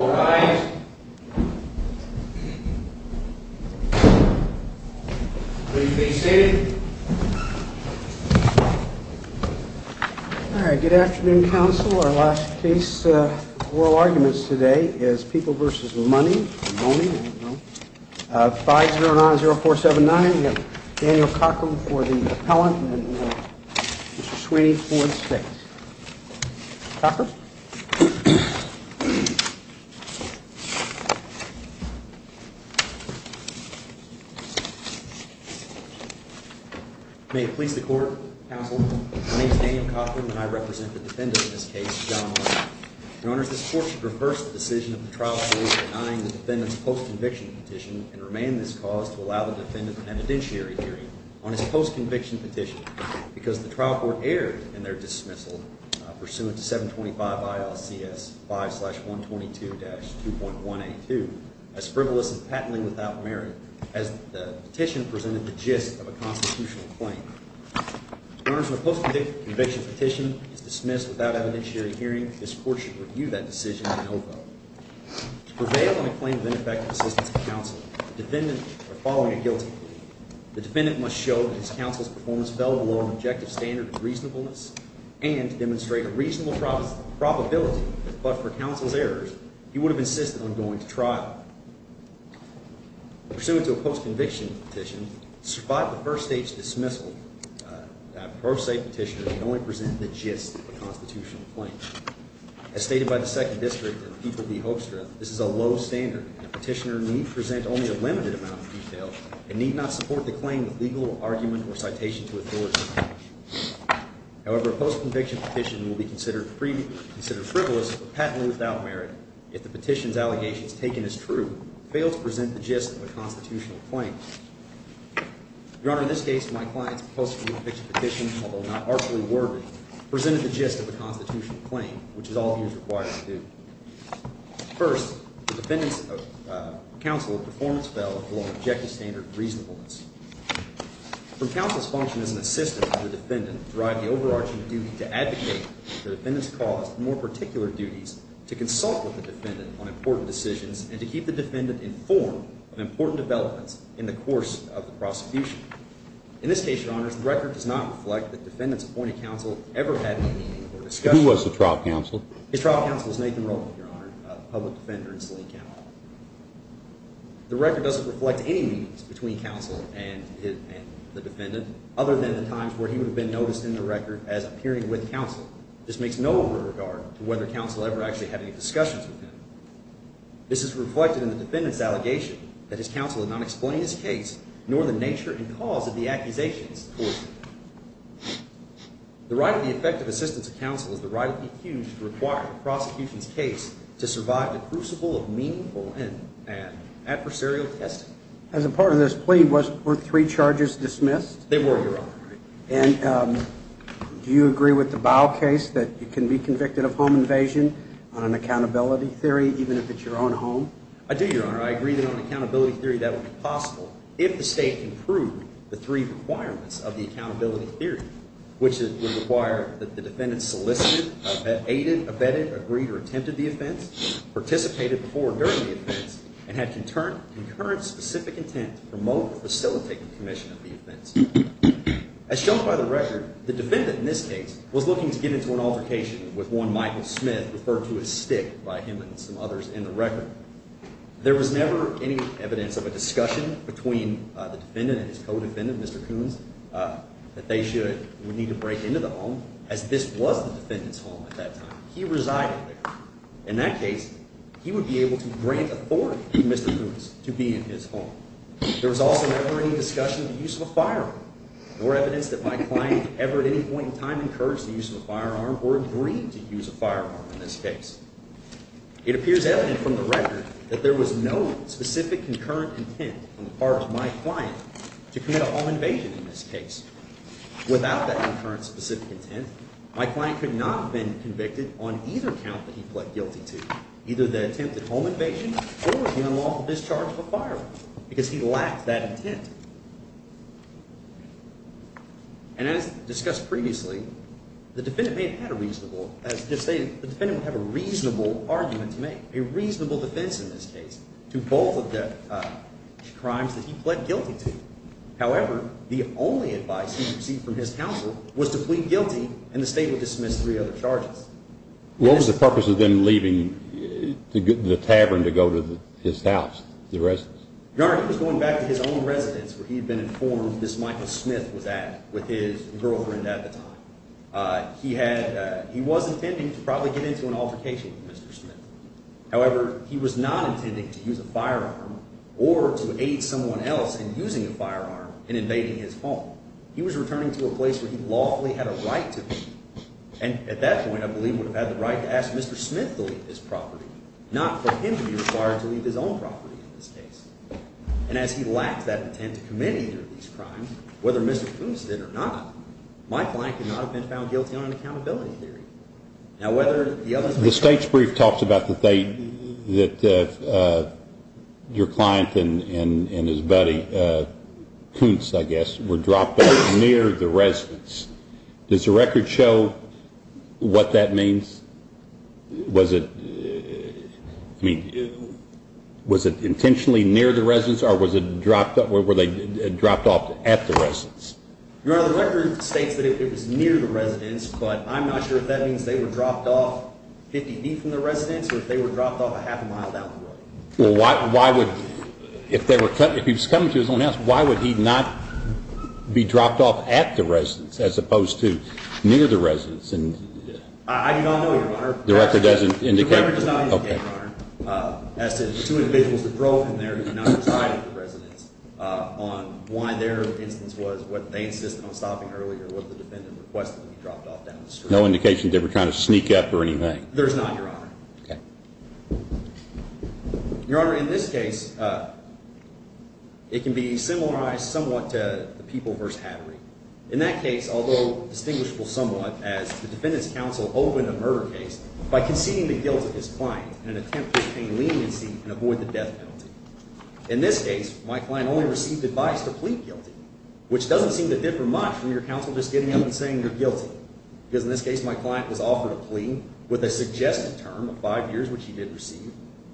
Good afternoon, Council. Our last case of oral arguments today is People v. Money, 5-090-479. We have Daniel Cochran for the appellant and Mr. Sweeney for the state. Daniel Cochran Good afternoon. I represent the defendant in this case, John Money. Your Honor, this court should reverse the decision of the trial court denying the defendant's post-conviction petition and remain this cause to allow the defendant an evidentiary hearing on his post-conviction petition because the trial court erred in their dismissal pursuant to 725 ILCS 5-122-2.182 as frivolous and patently without merit as the petition presented the gist of a constitutional claim. Your Honor, the post-conviction petition is dismissed without evidentiary hearing. This court should review that decision in OVA. To prevail on a claim of ineffective assistance to counsel, the defendant are following a guilty plea. The defendant must show that his counsel's performance fell below an objective standard of reasonableness and to demonstrate a reasonable probability that, but for counsel's errors, he would have insisted on going to trial. Pursuant to a post-conviction petition, despite the First State's dismissal, a pro se petitioner can only present the gist of a constitutional claim. As stated by the Second District and People v. Hoekstra, this is a low standard and a petitioner need present only a limited amount of detail and need not support the claim with legal argument or citation to authority. However, a post-conviction petition will be considered frivolous or patently without merit if the petition's allegations taken as true fail to present the gist of a constitutional claim. Your Honor, in this case, my client's post-conviction petition, although not artfully worded, presented the gist of a constitutional claim, which is all he is required to do. First, the defendant's counsel's performance fell below an objective standard of reasonableness. From counsel's function as an assistant to the defendant to drive the overarching duty to advocate for the defendant's cause, the more particular duties to consult with the defendant on important decisions and to keep the defendant informed of important developments in the course of the prosecution. In this case, Your Honors, the record does not reflect that the defendant's appointed counsel ever had a meeting or discussion. Who was the trial counsel? His trial counsel was Nathan Rowland, Your Honor, a public defender in Saline County. The record doesn't reflect any meetings between counsel and the defendant other than the times where he would have been noticed in the record as appearing with counsel. This makes no regard to whether counsel ever actually had any discussions with him. This is reflected in the defendant's allegation that his counsel had not explained his case nor the nature and cause of the accusations towards him. The right of the effective assistance of counsel is the right of the accused to require the prosecution's case to survive the crucible of meaningful and adversarial testing. As a part of this plea, were three charges dismissed? They were, Your Honor. And do you agree with the Bow case that you can be convicted of home invasion on an accountability theory, even if it's your own home? I do, Your Honor. I agree that on an accountability theory that would be possible if the state can prove the three requirements of the accountability theory, which would require that the defendant solicited, aided, abetted, agreed, or attempted the offense, participated before or during the offense, and had concurrent specific intent to promote or facilitate the commission of the offense. As shown by the record, the defendant in this case was looking to get into an altercation with one Michael Smith, referred to as Stick by him and some others in the record. There was never any evidence of a discussion between the defendant and his co-defendant, Mr. Coons, that they should or would need to break into the home, as this was the defendant's home at that time. He resided there. In that case, he would be able to grant authority to Mr. Coons to be in his home. There was also never any discussion of the use of a firearm, nor evidence that my client ever at any point in time encouraged the use of a firearm or agreed to use a firearm in this case. It appears evident from the record that there was no specific concurrent intent on the part of my client to commit a home invasion in this case. Without that concurrent specific intent, my client could not have been convicted on either count that he pled guilty to, either the attempted home invasion or the unlawful discharge of a firearm, because he lacked that intent. And as discussed previously, the defendant may have had a reasonable, as just stated, the defendant would have a reasonable argument to make, a reasonable defense in this case, to both of the crimes that he pled guilty to. However, the only advice he received from his counsel was to plead guilty and the state would dismiss three other charges. What was the purpose of them leaving the tavern to go to his house, the residence? Your Honor, he was going back to his own residence where he had been informed this Michael Smith was at with his girlfriend at the time. He was intending to probably get into an altercation with Mr. Smith. However, he was not intending to use a firearm or to aid someone else in using a firearm in invading his home. He was returning to a place where he lawfully had a right to be. And at that point, I believe he would have had the right to ask Mr. Smith to leave his property, not for him to be required to leave his own property in this case. And as he lacked that intent to commit either of these crimes, whether Mr. Koontz did or not, my client could not have been found guilty on an accountability theory. Now, whether the other things… The state's brief talks about that your client and his buddy, Koontz, I guess, were dropped off near the residence. Does the record show what that means? Was it intentionally near the residence or were they dropped off at the residence? Your Honor, the record states that it was near the residence, but I'm not sure if that means they were dropped off 50 feet from the residence or if they were dropped off a half a mile down the road. Well, if he was coming to his own house, why would he not be dropped off at the residence as opposed to near the residence? I do not know, Your Honor. The record does not indicate… The record does not indicate, Your Honor, as to the two individuals that drove in there and did not reside at the residence, on why their instance was what they insisted on stopping earlier was the defendant requested to be dropped off down the street. No indication they were trying to sneak up or anything? There's not, Your Honor. Okay. Your Honor, in this case, it can be similarized somewhat to the People v. Hattery. In that case, although distinguishable somewhat, as the defendant's counsel opened a murder case by conceding the guilt of his client in an attempt to obtain leniency and avoid the death penalty. In this case, my client only received advice to plead guilty, which doesn't seem to differ much from your counsel just getting up and saying you're guilty. Because in this case, my client was offered a plea with a suggested term of five years, which he did receive.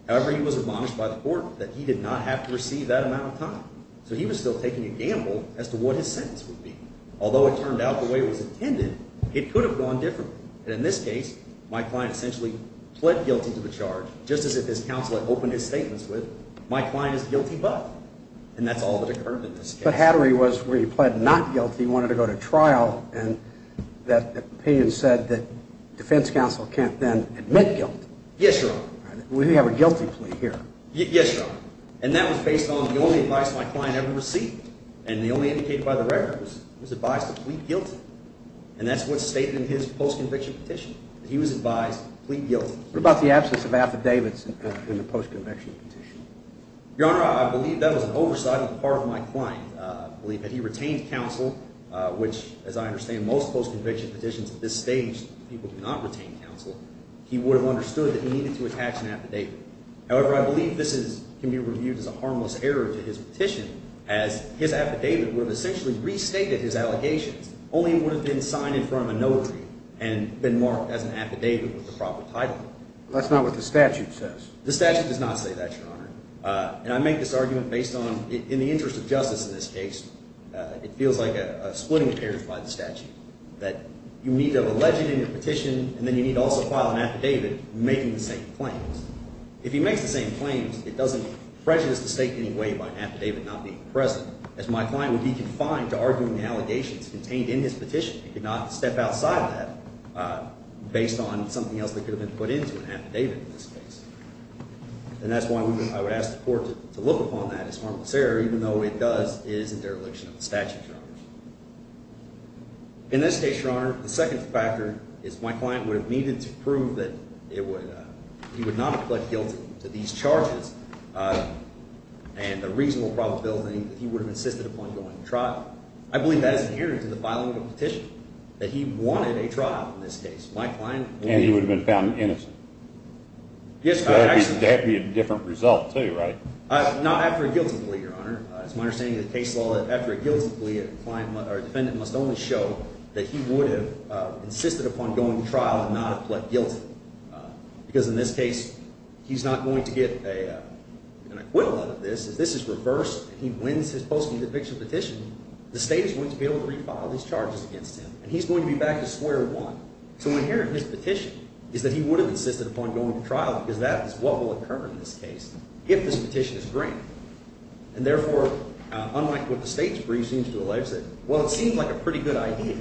However, he was admonished by the court that he did not have to receive that amount of time. So he was still taking a gamble as to what his sentence would be. Although it turned out the way it was intended, it could have gone differently. And in this case, my client essentially pled guilty to the charge, just as if his counsel had opened his statements with, my client is guilty but, and that's all that occurred in this case. But Hattery was where he pled not guilty, wanted to go to trial, and that opinion said that defense counsel can't then admit guilt. Yes, Your Honor. We have a guilty plea here. Yes, Your Honor. And that was based on the only advice my client ever received. And the only indicated by the record was advice to plead guilty. And that's what's stated in his post-conviction petition, that he was advised to plead guilty. What about the absence of affidavits in the post-conviction petition? Your Honor, I believe that was an oversight on the part of my client. I believe that he retained counsel, which, as I understand, most post-conviction petitions at this stage, people do not retain counsel. He would have understood that he needed to attach an affidavit. However, I believe this can be reviewed as a harmless error to his petition, as his affidavit would have essentially restated his allegations, only it would have been signed in front of a notary, and been marked as an affidavit with the proper title. That's not what the statute says. The statute does not say that, Your Honor. And I make this argument based on, in the interest of justice in this case, it feels like a splitting appearance by the statute, that you need to have a legend in your petition, and then you need to also file an affidavit making the same claims. If he makes the same claims, it doesn't prejudice the state in any way by an affidavit not being present, as my client would be confined to arguing the allegations contained in his petition. He could not step outside that, based on something else that could have been put into an affidavit in this case. And that's why I would ask the Court to look upon that as harmless error, In this case, Your Honor, the second factor is my client would have needed to prove that he would not have pled guilty to these charges, and the reasonable probability that he would have insisted upon going to trial. I believe that is inherent to the filing of a petition, that he wanted a trial in this case. And he would have been found innocent? Yes, Your Honor. That would be a different result, too, right? Not after a guilty plea, Your Honor. It's my understanding in the case law that after a guilty plea, a defendant must only show that he would have insisted upon going to trial and not have pled guilty. Because in this case, he's not going to get an acquittal out of this. If this is reversed and he wins his post-media picture petition, the state is going to be able to refile these charges against him, and he's going to be back to square one. So inherent in his petition is that he would have insisted upon going to trial, because that is what will occur in this case if this petition is granted. And therefore, unlike what the state's brief seems to allege, well, it seems like a pretty good idea.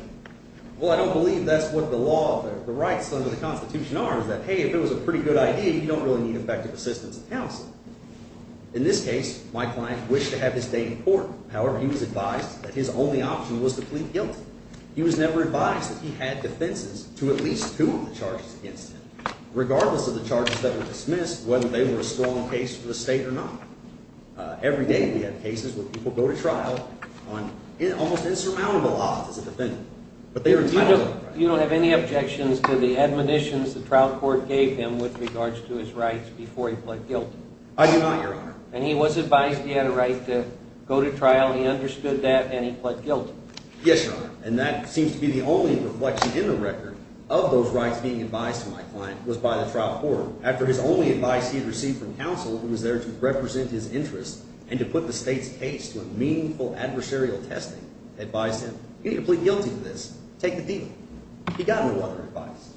Well, I don't believe that's what the rights under the Constitution are, is that, hey, if it was a pretty good idea, you don't really need effective assistance of counsel. In this case, my client wished to have his day in court. However, he was advised that his only option was to plead guilty. He was never advised that he had defenses to at least two of the charges against him, regardless of the charges that were dismissed, whether they were a strong case for the state or not. Every day we have cases where people go to trial on almost insurmountable odds as a defendant. You don't have any objections to the admonitions the trial court gave him with regards to his rights before he pled guilty? I do not, Your Honor. And he was advised he had a right to go to trial. He understood that, and he pled guilty. Yes, Your Honor, and that seems to be the only reflection in the record of those rights being advised to my client was by the trial court. After his only advice he had received from counsel, who was there to represent his interests and to put the state's case to a meaningful adversarial testing, advised him, you need to plead guilty to this. Take the deal. He got no other advice.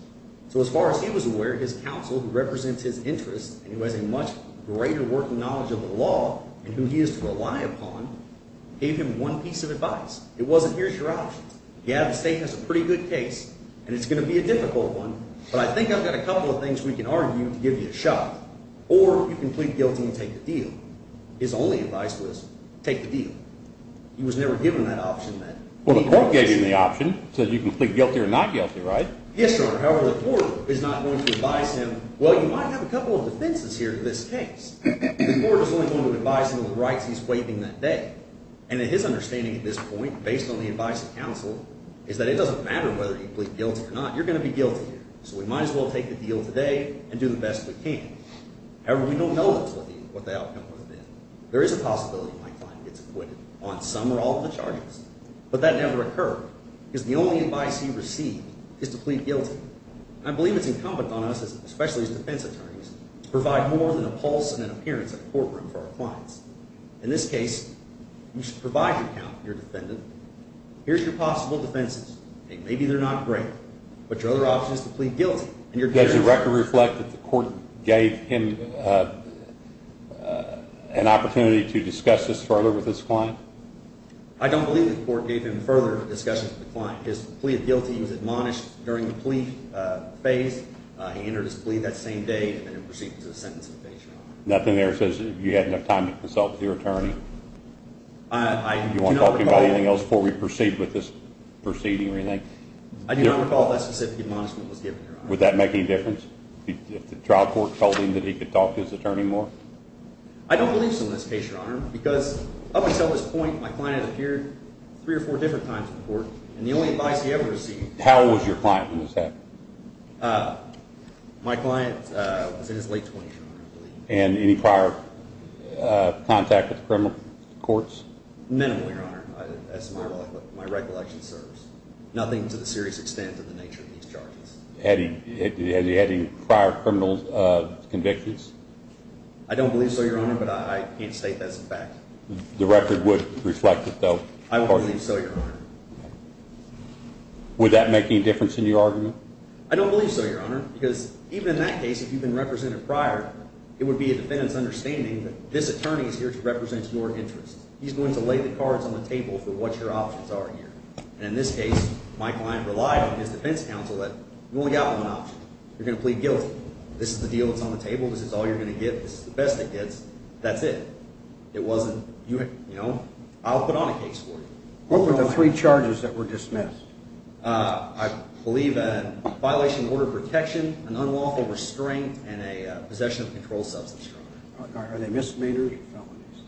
So as far as he was aware, his counsel, who represents his interests and who has a much greater working knowledge of the law and who he is to rely upon, gave him one piece of advice. It wasn't, here's your option. Yeah, the state has a pretty good case, and it's going to be a difficult one, but I think I've got a couple of things we can argue to give you a shot. Or you can plead guilty and take the deal. His only advice was take the deal. He was never given that option. Well, the court gave him the option. It says you can plead guilty or not guilty, right? Yes, Your Honor. However, the court is not going to advise him, well, you might have a couple of defenses here to this case. The court is only going to advise him of the rights he's waiving that day. And his understanding at this point, based on the advice of counsel, is that it doesn't matter whether you plead guilty or not. You're going to be guilty here. So we might as well take the deal today and do the best we can. However, we don't know what the outcome would have been. There is a possibility my client gets acquitted on some or all of the charges, but that never occurred because the only advice he received is to plead guilty. I believe it's incumbent on us, especially as defense attorneys, to provide more than a pulse and an appearance at a courtroom for our clients. In this case, you should provide your account to your defendant. Here's your possible defenses. Maybe they're not great, but your other option is to plead guilty. Does the record reflect that the court gave him an opportunity to discuss this further with his client? I don't believe the court gave him further discussion with the client. His plea of guilty was admonished during the plea phase. He entered his plea that same day and then proceeded to the sentence of evasion. Nothing there that says you had enough time to consult with your attorney? Do you want to talk about anything else before we proceed with this proceeding or anything? I do not recall that specific admonishment was given, Your Honor. Would that make any difference if the trial court told him that he could talk to his attorney more? I don't believe so in this case, Your Honor, because up until this point my client had appeared three or four different times to the court, and the only advice he ever received was to plead guilty. How old was your client when this happened? My client was in his late 20s, Your Honor. And any prior contact with the criminal courts? Minimal, Your Honor, as my recollection serves. Nothing to the serious extent of the nature of these charges. Had he had any prior criminal convictions? I don't believe so, Your Honor, but I can't state that's a fact. The record would reflect it, though. I don't believe so, Your Honor. Would that make any difference in your argument? I don't believe so, Your Honor, because even in that case, if you've been represented prior, it would be a defendant's understanding that this attorney is here to represent your interests. He's going to lay the cards on the table for what your options are here. And in this case, my client relied on his defense counsel that you only got one option. You're going to plead guilty. This is the deal that's on the table. This is all you're going to get. This is the best it gets. That's it. It wasn't, you know, I'll put on a case for you. What were the three charges that were dismissed? I believe a violation of order of protection, an unlawful restraint, and a possession of a controlled substance. Are they misdemeanors or felonies?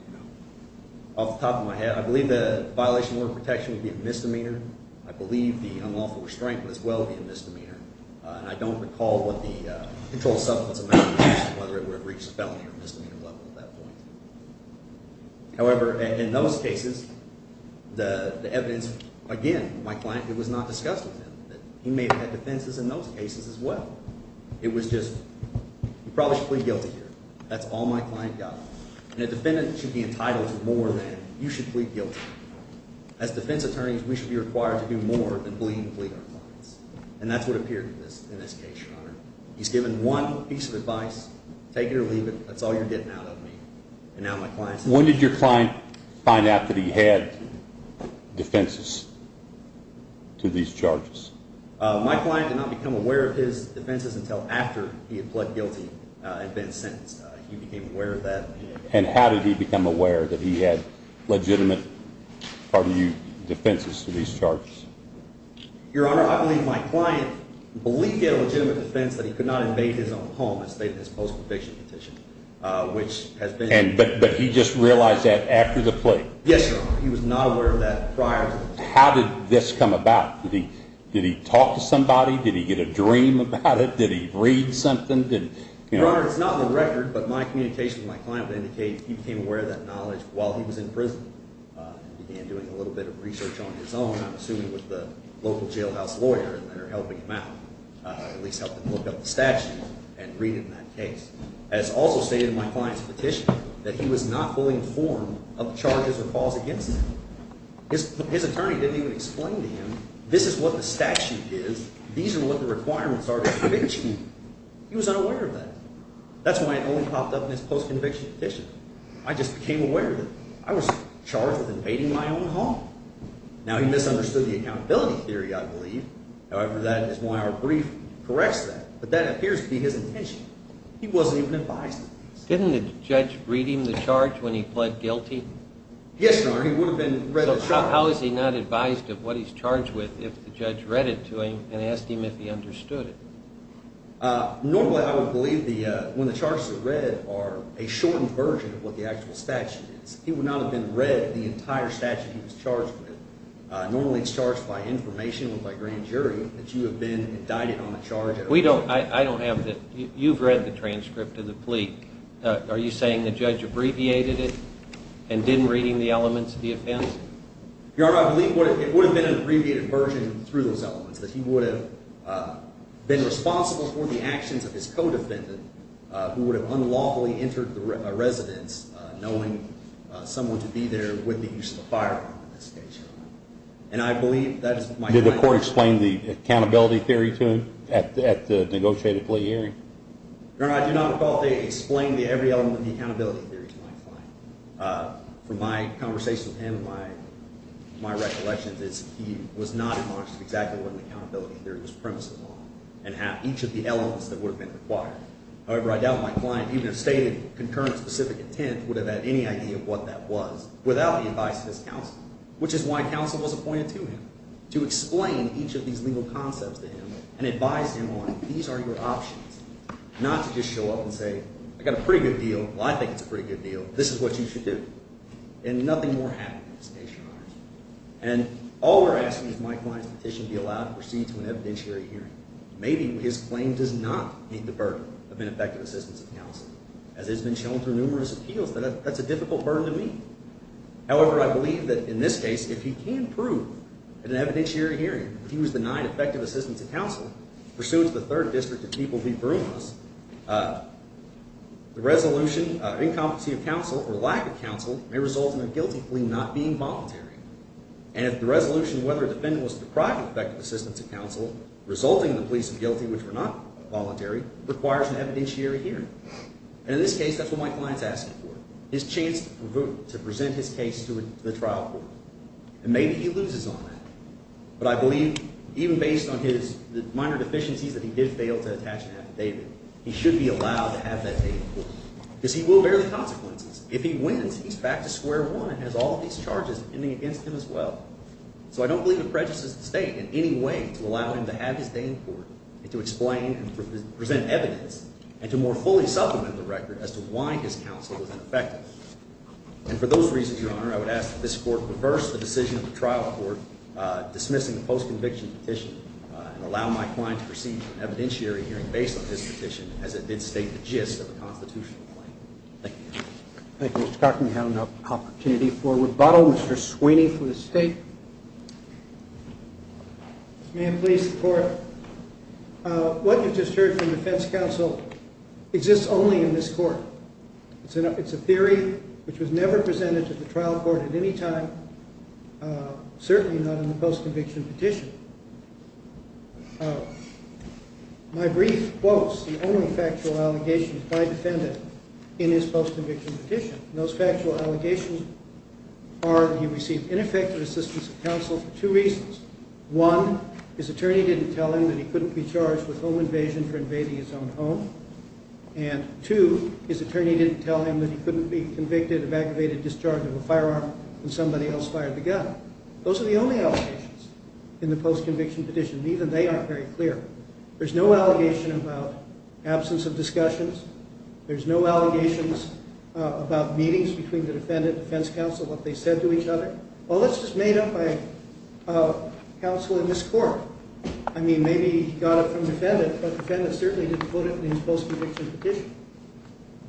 Off the top of my head, I believe the violation of order of protection would be a misdemeanor. I believe the unlawful restraint would as well be a misdemeanor. And I don't recall what the controlled substance amount was, whether it would have reached the felony or misdemeanor level at that point. However, in those cases, the evidence, again, my client, it was not discussed with him. He may have had defenses in those cases as well. It was just you probably should plead guilty here. That's all my client got. And a defendant should be entitled to more than you should plead guilty. As defense attorneys, we should be required to do more than bleed and plead our clients. And that's what appeared in this case, Your Honor. He's given one piece of advice. Take it or leave it. That's all you're getting out of me. When did your client find out that he had defenses to these charges? My client did not become aware of his defenses until after he had pled guilty and been sentenced. He became aware of that. And how did he become aware that he had legitimate, pardon you, defenses to these charges? Your Honor, I believe my client believed he had a legitimate defense that he could not invade his own home. But he just realized that after the plea? Yes, Your Honor. He was not aware of that prior to the plea. How did this come about? Did he talk to somebody? Did he get a dream about it? Did he read something? Your Honor, it's not on the record, but my communication with my client would indicate he became aware of that knowledge while he was in prison. He began doing a little bit of research on his own, I'm assuming with the local jailhouse lawyer that are helping him out. At least help him look up the statute and read it in that case. As also stated in my client's petition, that he was not fully informed of the charges or falls against him. His attorney didn't even explain to him, this is what the statute is, these are what the requirements are to convict you. He was unaware of that. That's why it only popped up in his post-conviction petition. I just became aware of it. I was charged with invading my own home. Now, he misunderstood the accountability theory, I believe. However, that is why our brief corrects that. But that appears to be his intention. He wasn't even advised of this. Didn't the judge read him the charge when he pled guilty? Yes, Your Honor, he would have been read the charge. So how is he not advised of what he's charged with if the judge read it to him and asked him if he understood it? Normally, I would believe when the charges are read are a shortened version of what the actual statute is. He would not have been read the entire statute he was charged with. Normally, it's charged by information or by grand jury that you have been indicted on a charge. I don't have that. You've read the transcript of the plea. Are you saying the judge abbreviated it and didn't read the elements of the offense? Your Honor, I believe it would have been an abbreviated version through those elements, that he would have been responsible for the actions of his co-defendant who would have unlawfully entered the residence knowing someone to be there with the use of a firearm in this case. Did the court explain the accountability theory to him at the negotiated plea hearing? Your Honor, I do not recall they explained every element of the accountability theory to my client. From my conversations with him and my recollections is he was not conscious of exactly what an accountability theory was premise of the law and had each of the elements that would have been required. However, I doubt my client even if stated concurrent specific intent would have had any idea of what that was without the advice of his counsel, which is why counsel was appointed to him to explain each of these legal concepts to him and advise him on these are your options, not to just show up and say, I got a pretty good deal. Well, I think it's a pretty good deal. This is what you should do. And nothing more happened in this case, Your Honor. And all we're asking is my client's petition be allowed to proceed to an evidentiary hearing. Maybe his claim does not meet the burden of an effective assistance of counsel. As it's been shown through numerous appeals, that's a difficult burden to meet. However, I believe that in this case, if he can prove in an evidentiary hearing that he was denied effective assistance of counsel, pursuant to the Third District of People v. Brooms, the resolution of incompetency of counsel or lack of counsel may result in a guilty plea not being voluntary. And if the resolution, whether defendant was deprived of effective assistance of counsel, resulting in the plea of guilty, which were not voluntary, requires an evidentiary hearing. And in this case, that's what my client's asking for, his chance to present his case to the trial court. And maybe he loses on that. But I believe even based on the minor deficiencies that he did fail to attach an affidavit, he should be allowed to have that affidavit because he will bear the consequences. If he wins, he's back to square one and has all of these charges pending against him as well. So I don't believe it prejudices the State in any way to allow him to have his day in court and to explain and present evidence and to more fully supplement the record as to why his counsel was ineffective. And for those reasons, Your Honor, I would ask that this Court reverse the decision of the trial court dismissing the post-conviction petition and allow my client to proceed to an evidentiary hearing based on this petition as it did state the gist of the constitutional claim. Thank you. Thank you, Mr. Cochran. We have an opportunity for rebuttal. Mr. Sweeney for the State. May it please the Court. What you just heard from the defense counsel exists only in this court. It's a theory which was never presented to the trial court at any time, certainly not in the post-conviction petition. My brief quotes the only factual allegations by defendant in his post-conviction petition. And those factual allegations are that he received ineffective assistance of counsel for two reasons. One, his attorney didn't tell him that he couldn't be charged with home invasion for invading his own home. And two, his attorney didn't tell him that he couldn't be convicted of activated discharge of a firearm when somebody else fired the gun. Those are the only allegations in the post-conviction petition. Even they aren't very clear. There's no allegation about absence of discussions. There's no allegations about meetings between the defendant and defense counsel, what they said to each other. All this is made up by counsel in this court. I mean, maybe he got it from the defendant, but the defendant certainly didn't put it in his post-conviction petition.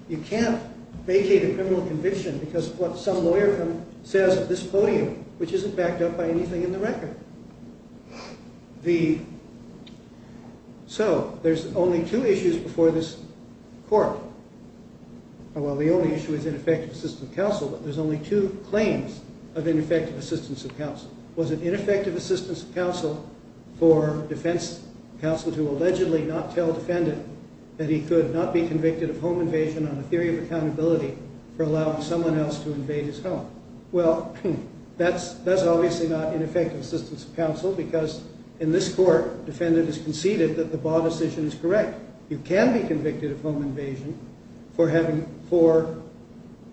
You can't vacate a criminal conviction because of what some lawyer says at this podium, which isn't backed up by anything in the record. So there's only two issues before this court. Well, the only issue is ineffective assistance of counsel, but there's only two claims of ineffective assistance of counsel. Was it ineffective assistance of counsel for defense counsel to allegedly not tell defendant that he could not be convicted of home invasion on a theory of accountability for allowing someone else to invade his home? Well, that's obviously not ineffective assistance of counsel because in this court, defendant has conceded that the Baugh decision is correct. You can be convicted of home invasion for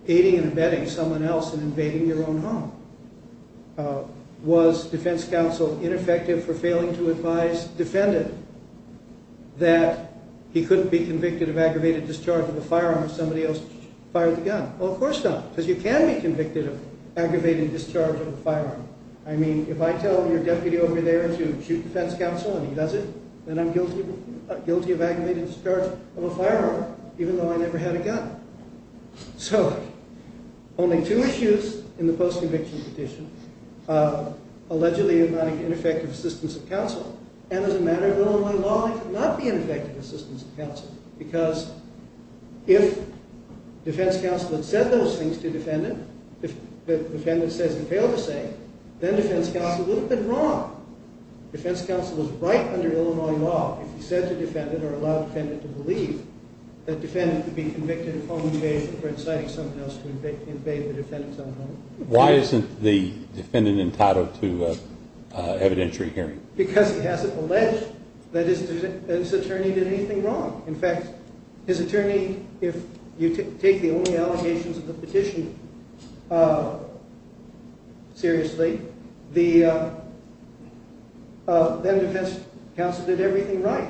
aiding and abetting someone else in invading your own home. Was defense counsel ineffective for failing to advise defendant that he couldn't be convicted of aggravated discharge of a firearm if somebody else fired the gun? Well, of course not, because you can be convicted of aggravated discharge of a firearm. I mean, if I tell your deputy over there to shoot defense counsel and he does it, then I'm guilty of aggravated discharge of a firearm even though I never had a gun. So only two issues in the post-conviction petition of allegedly inviting ineffective assistance of counsel. And as a matter of Illinois law, it could not be ineffective assistance of counsel because if defense counsel had said those things to defendant, if defendant says he failed to say, then defense counsel would have been wrong. Defense counsel was right under Illinois law if he said to defendant or allowed defendant to believe that defendant could be convicted of home invasion for inciting someone else to invade the defendant's own home. Why isn't the defendant entitled to evidentiary hearing? Because he hasn't alleged that his attorney did anything wrong. In fact, his attorney, if you take the only allegations of the petition seriously, then defense counsel did everything right.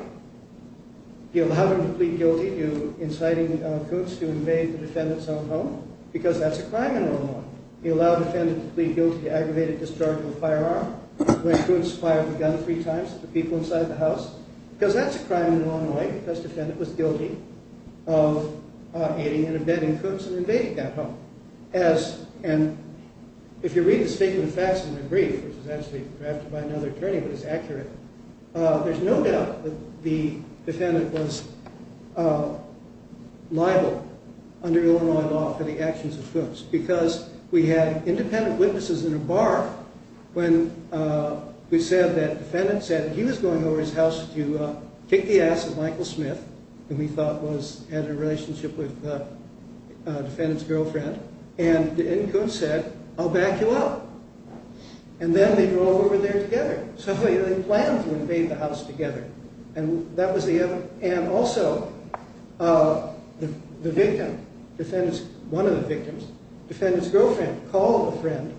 He allowed him to plead guilty to inciting Coots to invade the defendant's own home because that's a crime in Illinois law. He allowed defendant to plead guilty to aggravated discharge of a firearm when Coots fired the gun three times at the people inside the house because that's a crime in Illinois because defendant was guilty of aiding and abetting Coots in invading that home. And if you read the statement of facts in the brief, which was actually drafted by another attorney but it's accurate, there's no doubt that the defendant was liable under Illinois law for the actions of Coots because we had independent witnesses in a bar when we said that defendant said he was going over to his house to kick the ass of Michael Smith, whom he thought had a relationship with defendant's girlfriend, and Coots said, I'll back you up. And then they drove over there together. So they planned to invade the house together. And also the victim, one of the victims, defendant's girlfriend called a friend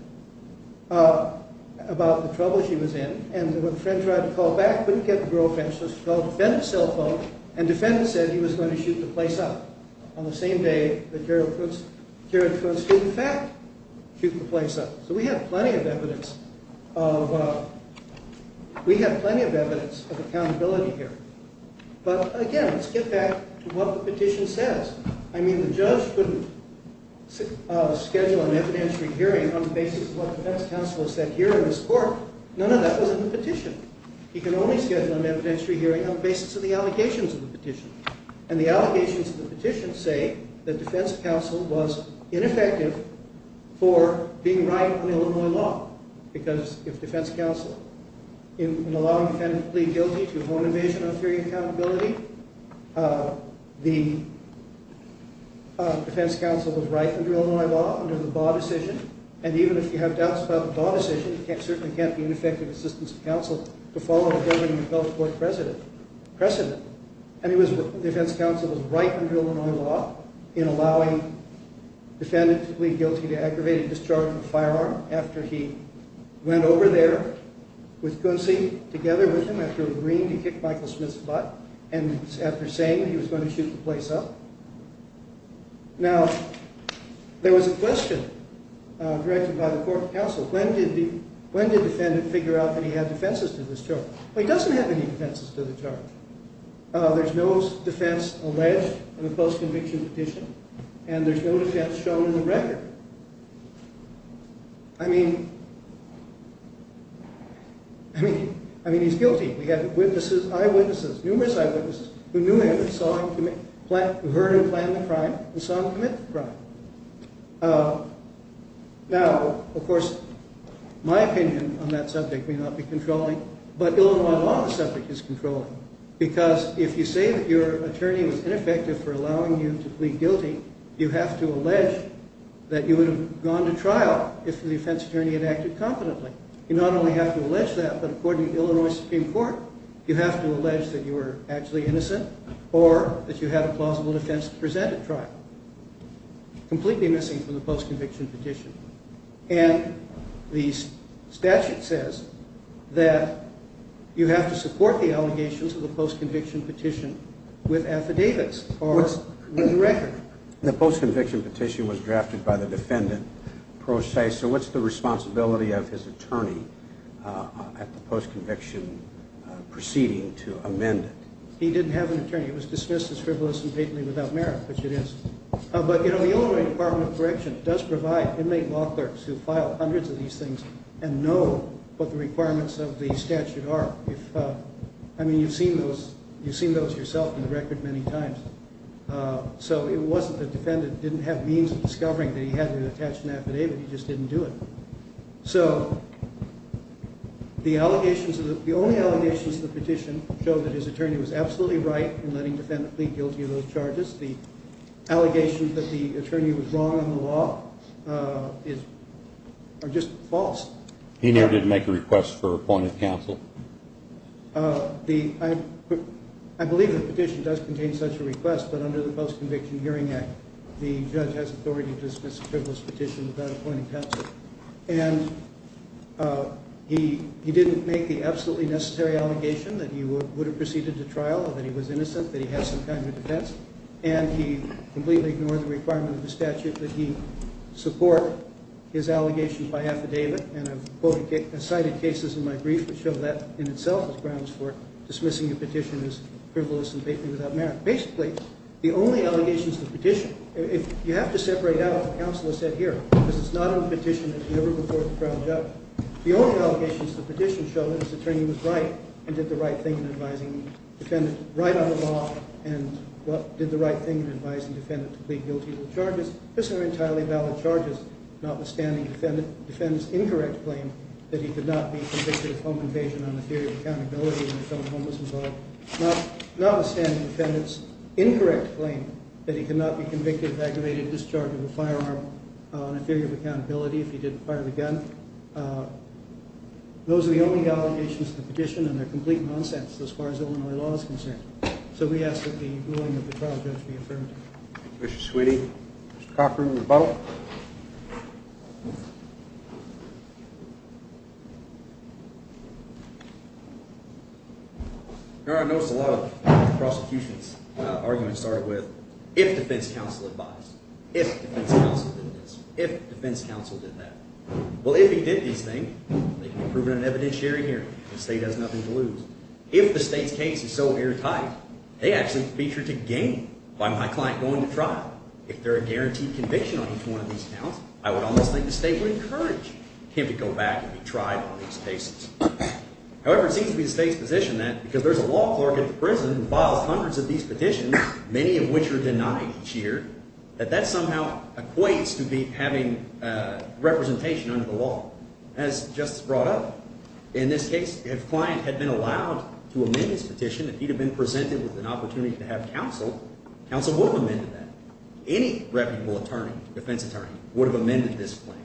about the trouble she was in, and when the friend tried to call back, couldn't get the girlfriend, so she called the defendant's cell phone, and defendant said he was going to shoot the place up on the same day that Gerard Coots did in fact shoot the place up. So we have plenty of evidence of accountability here. But again, let's get back to what the petition says. I mean, the judge couldn't schedule an evidentiary hearing on the basis of what defense counsel said here in this court. None of that was in the petition. He can only schedule an evidentiary hearing on the basis of the allegations of the petition. And the allegations of the petition say that defense counsel was ineffective for being right on the Illinois law, because if defense counsel, in allowing the defendant to plead guilty to home invasion on fearing accountability, the defense counsel was right under Illinois law, under the Baugh decision, and even if you have doubts about the Baugh decision, it certainly can't be an effective assistance of counsel to follow a government health board precedent. And defense counsel was right under Illinois law in allowing the defendant to plead guilty to aggravated discharge of a firearm after he went over there with Coonsie, together with him, after agreeing to kick Michael Smith's butt, and after saying he was going to shoot the place up. Now, there was a question directed by the court of counsel. When did the defendant figure out that he had defenses to discharge? Well, he doesn't have any defenses to discharge. There's no defense alleged in a post-conviction petition, and there's no defense shown in the record. I mean, he's guilty. We have eyewitnesses, numerous eyewitnesses, who knew him, saw him commit, heard him plan the crime, and saw him commit the crime. Now, of course, my opinion on that subject may not be controlling, but Illinois law on the subject is controlling, because if you say that your attorney was ineffective for allowing you to plead guilty, you have to allege that you would have gone to trial if the defense attorney had acted confidently. You not only have to allege that, but according to Illinois Supreme Court, you have to allege that you were actually innocent or that you had a plausible defense to present at trial. Completely missing from the post-conviction petition. And the statute says that you have to support the allegations of the post-conviction petition with affidavits or with a record. The post-conviction petition was drafted by the defendant. So what's the responsibility of his attorney at the post-conviction proceeding to amend it? He didn't have an attorney. It was dismissed as frivolous and patently without merit, which it is. But, you know, the Illinois Department of Correction does provide inmate law clerks who file hundreds of these things and know what the requirements of the statute are. I mean, you've seen those yourself in the record many times. So it wasn't that the defendant didn't have means of discovering that he had an attached affidavit. He just didn't do it. So the only allegations of the petition show that his attorney was absolutely right in letting the defendant plead guilty of those charges. The allegations that the attorney was wrong in the law are just false. He never did make a request for appointed counsel. I believe the petition does contain such a request, but under the Post-Conviction Hearing Act, the judge has authority to dismiss a frivolous petition without appointing counsel. And he didn't make the absolutely necessary allegation that he would have proceeded to trial, that he was innocent, that he had some kind of defense, and he completely ignored the requirement of the statute that he support his allegations by affidavit. And I've cited cases in my brief that show that in itself as grounds for dismissing a petition as frivolous and blatantly without merit. Basically, the only allegations of the petition, you have to separate out what counsel has said here, because it's not on the petition that he ever before had to trial a judge. The only allegations of the petition show that his attorney was right and did the right thing in advising the defendant right on the law and did the right thing in advising the defendant to plead guilty of those charges. These are entirely valid charges, notwithstanding the defendant's incorrect claim that he could not be convicted of home invasion on a theory of accountability in the film Homeless Involved, notwithstanding the defendant's incorrect claim that he could not be convicted of aggravated discharge of a firearm on a theory of accountability if he didn't fire the gun. Those are the only allegations of the petition, and they're complete nonsense as far as Illinois law is concerned. So we ask that the ruling of the trial judge be affirmed. Mr. Sweeney, Mr. Cochran, the vote. I noticed a lot of prosecutions' arguments started with, if defense counsel advised, if defense counsel did this, if defense counsel did that. Well, if he did these things, they can be proven in an evidentiary hearing. The state has nothing to lose. If the state's case is so airtight, they actually feature to gain by my client going to trial. If there are guaranteed conviction on each one of these counts, I would almost think the state would encourage him to go back and be tried on these cases. However, it seems to be the state's position that because there's a law clerk at the prison who files hundreds of these petitions, many of which are denied each year, that that somehow equates to having representation under the law. As Justice brought up, in this case, if a client had been allowed to amend his petition, if he had been presented with an opportunity to have counsel, counsel would have amended that. Any reputable attorney, defense attorney, would have amended this claim.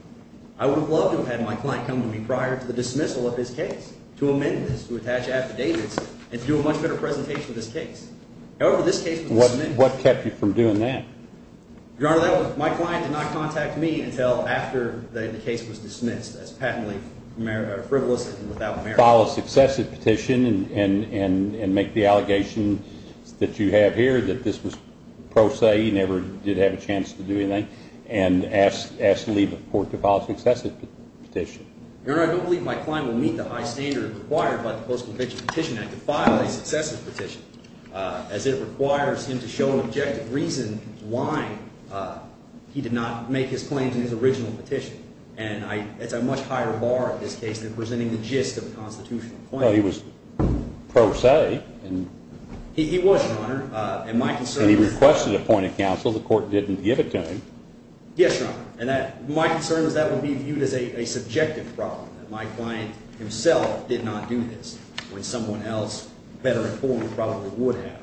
I would have loved to have had my client come to me prior to the dismissal of his case to amend this, to attach affidavits, and to do a much better presentation of this case. However, this case was dismissed. What kept you from doing that? Your Honor, my client did not contact me until after the case was dismissed as patently frivolous and without merit. File a successive petition and make the allegation that you have here, that this was pro se, he never did have a chance to do anything, and ask the lead court to file a successive petition. Your Honor, I don't believe my client will meet the high standard required by the Post-Conviction Petition Act to file a successive petition, as it requires him to show an objective reason why he did not make his claims in his original petition. And it's a much higher bar in this case than presenting the gist of a constitutional claim. Well, he was pro se. He was, Your Honor. And my concern is… And he requested a point of counsel. The court didn't give it to him. Yes, Your Honor. And my concern is that would be viewed as a subjective problem. My client himself did not do this when someone else, better informed, probably would have.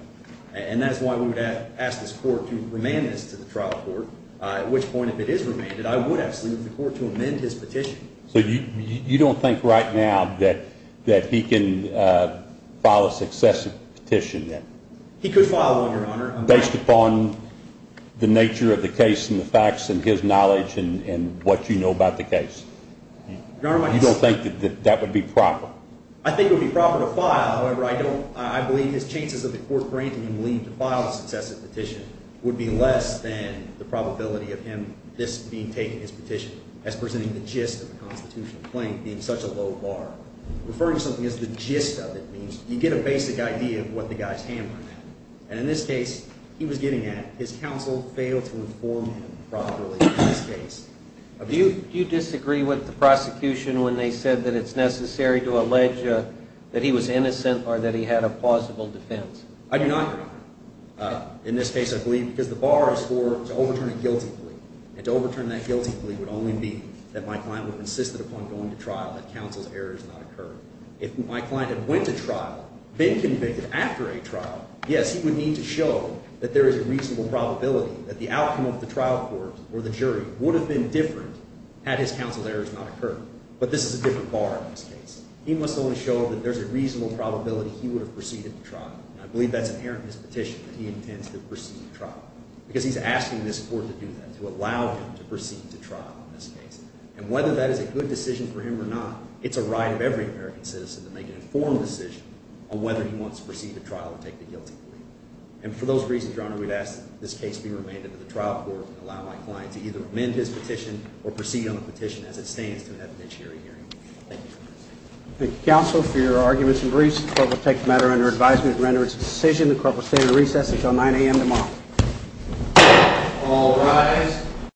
And that's why we would ask this court to remand this to the trial court, at which point, if it is remanded, I would ask the court to amend his petition. So you don't think right now that he can file a successive petition? He could file one, Your Honor. Based upon the nature of the case and the facts and his knowledge and what you know about the case? Your Honor, my concern… You don't think that that would be proper? I think it would be proper to file. However, I don't – I believe his chances of the court granting him leave to file a successive petition would be less than the probability of him this being taken, his petition, as presenting the gist of a constitutional claim, being such a low bar. Referring to something as the gist of it means you get a basic idea of what the guy's handling. And in this case, he was getting at his counsel failed to inform him properly in this case. Do you disagree with the prosecution when they said that it's necessary to allege that he was innocent or that he had a plausible defense? I do not agree. In this case, I believe – because the bar is for – to overturn a guilty plea. And to overturn that guilty plea would only be that my client would have insisted upon going to trial, that counsel's error had not occurred. If my client had went to trial, been convicted after a trial, yes, he would need to show that there is a reasonable probability that the outcome of the trial court or the jury would have been different had his counsel's errors not occurred. But this is a different bar in this case. He must only show that there's a reasonable probability he would have proceeded to trial. And I believe that's inherent in his petition that he intends to proceed to trial because he's asking this court to do that, to allow him to proceed to trial in this case. And whether that is a good decision for him or not, it's a right of every American citizen to make an informed decision on whether he wants to proceed to trial or take the guilty plea. And for those reasons, Your Honor, we'd ask that this case be remanded to the trial court and allow my client to either amend his petition or proceed on the petition as it stands to an evidentiary hearing. Thank you. Thank you, counsel, for your arguments and briefs. The court will take the matter under advisement and render its decision. The court will stand at recess until 9 a.m. tomorrow. All rise.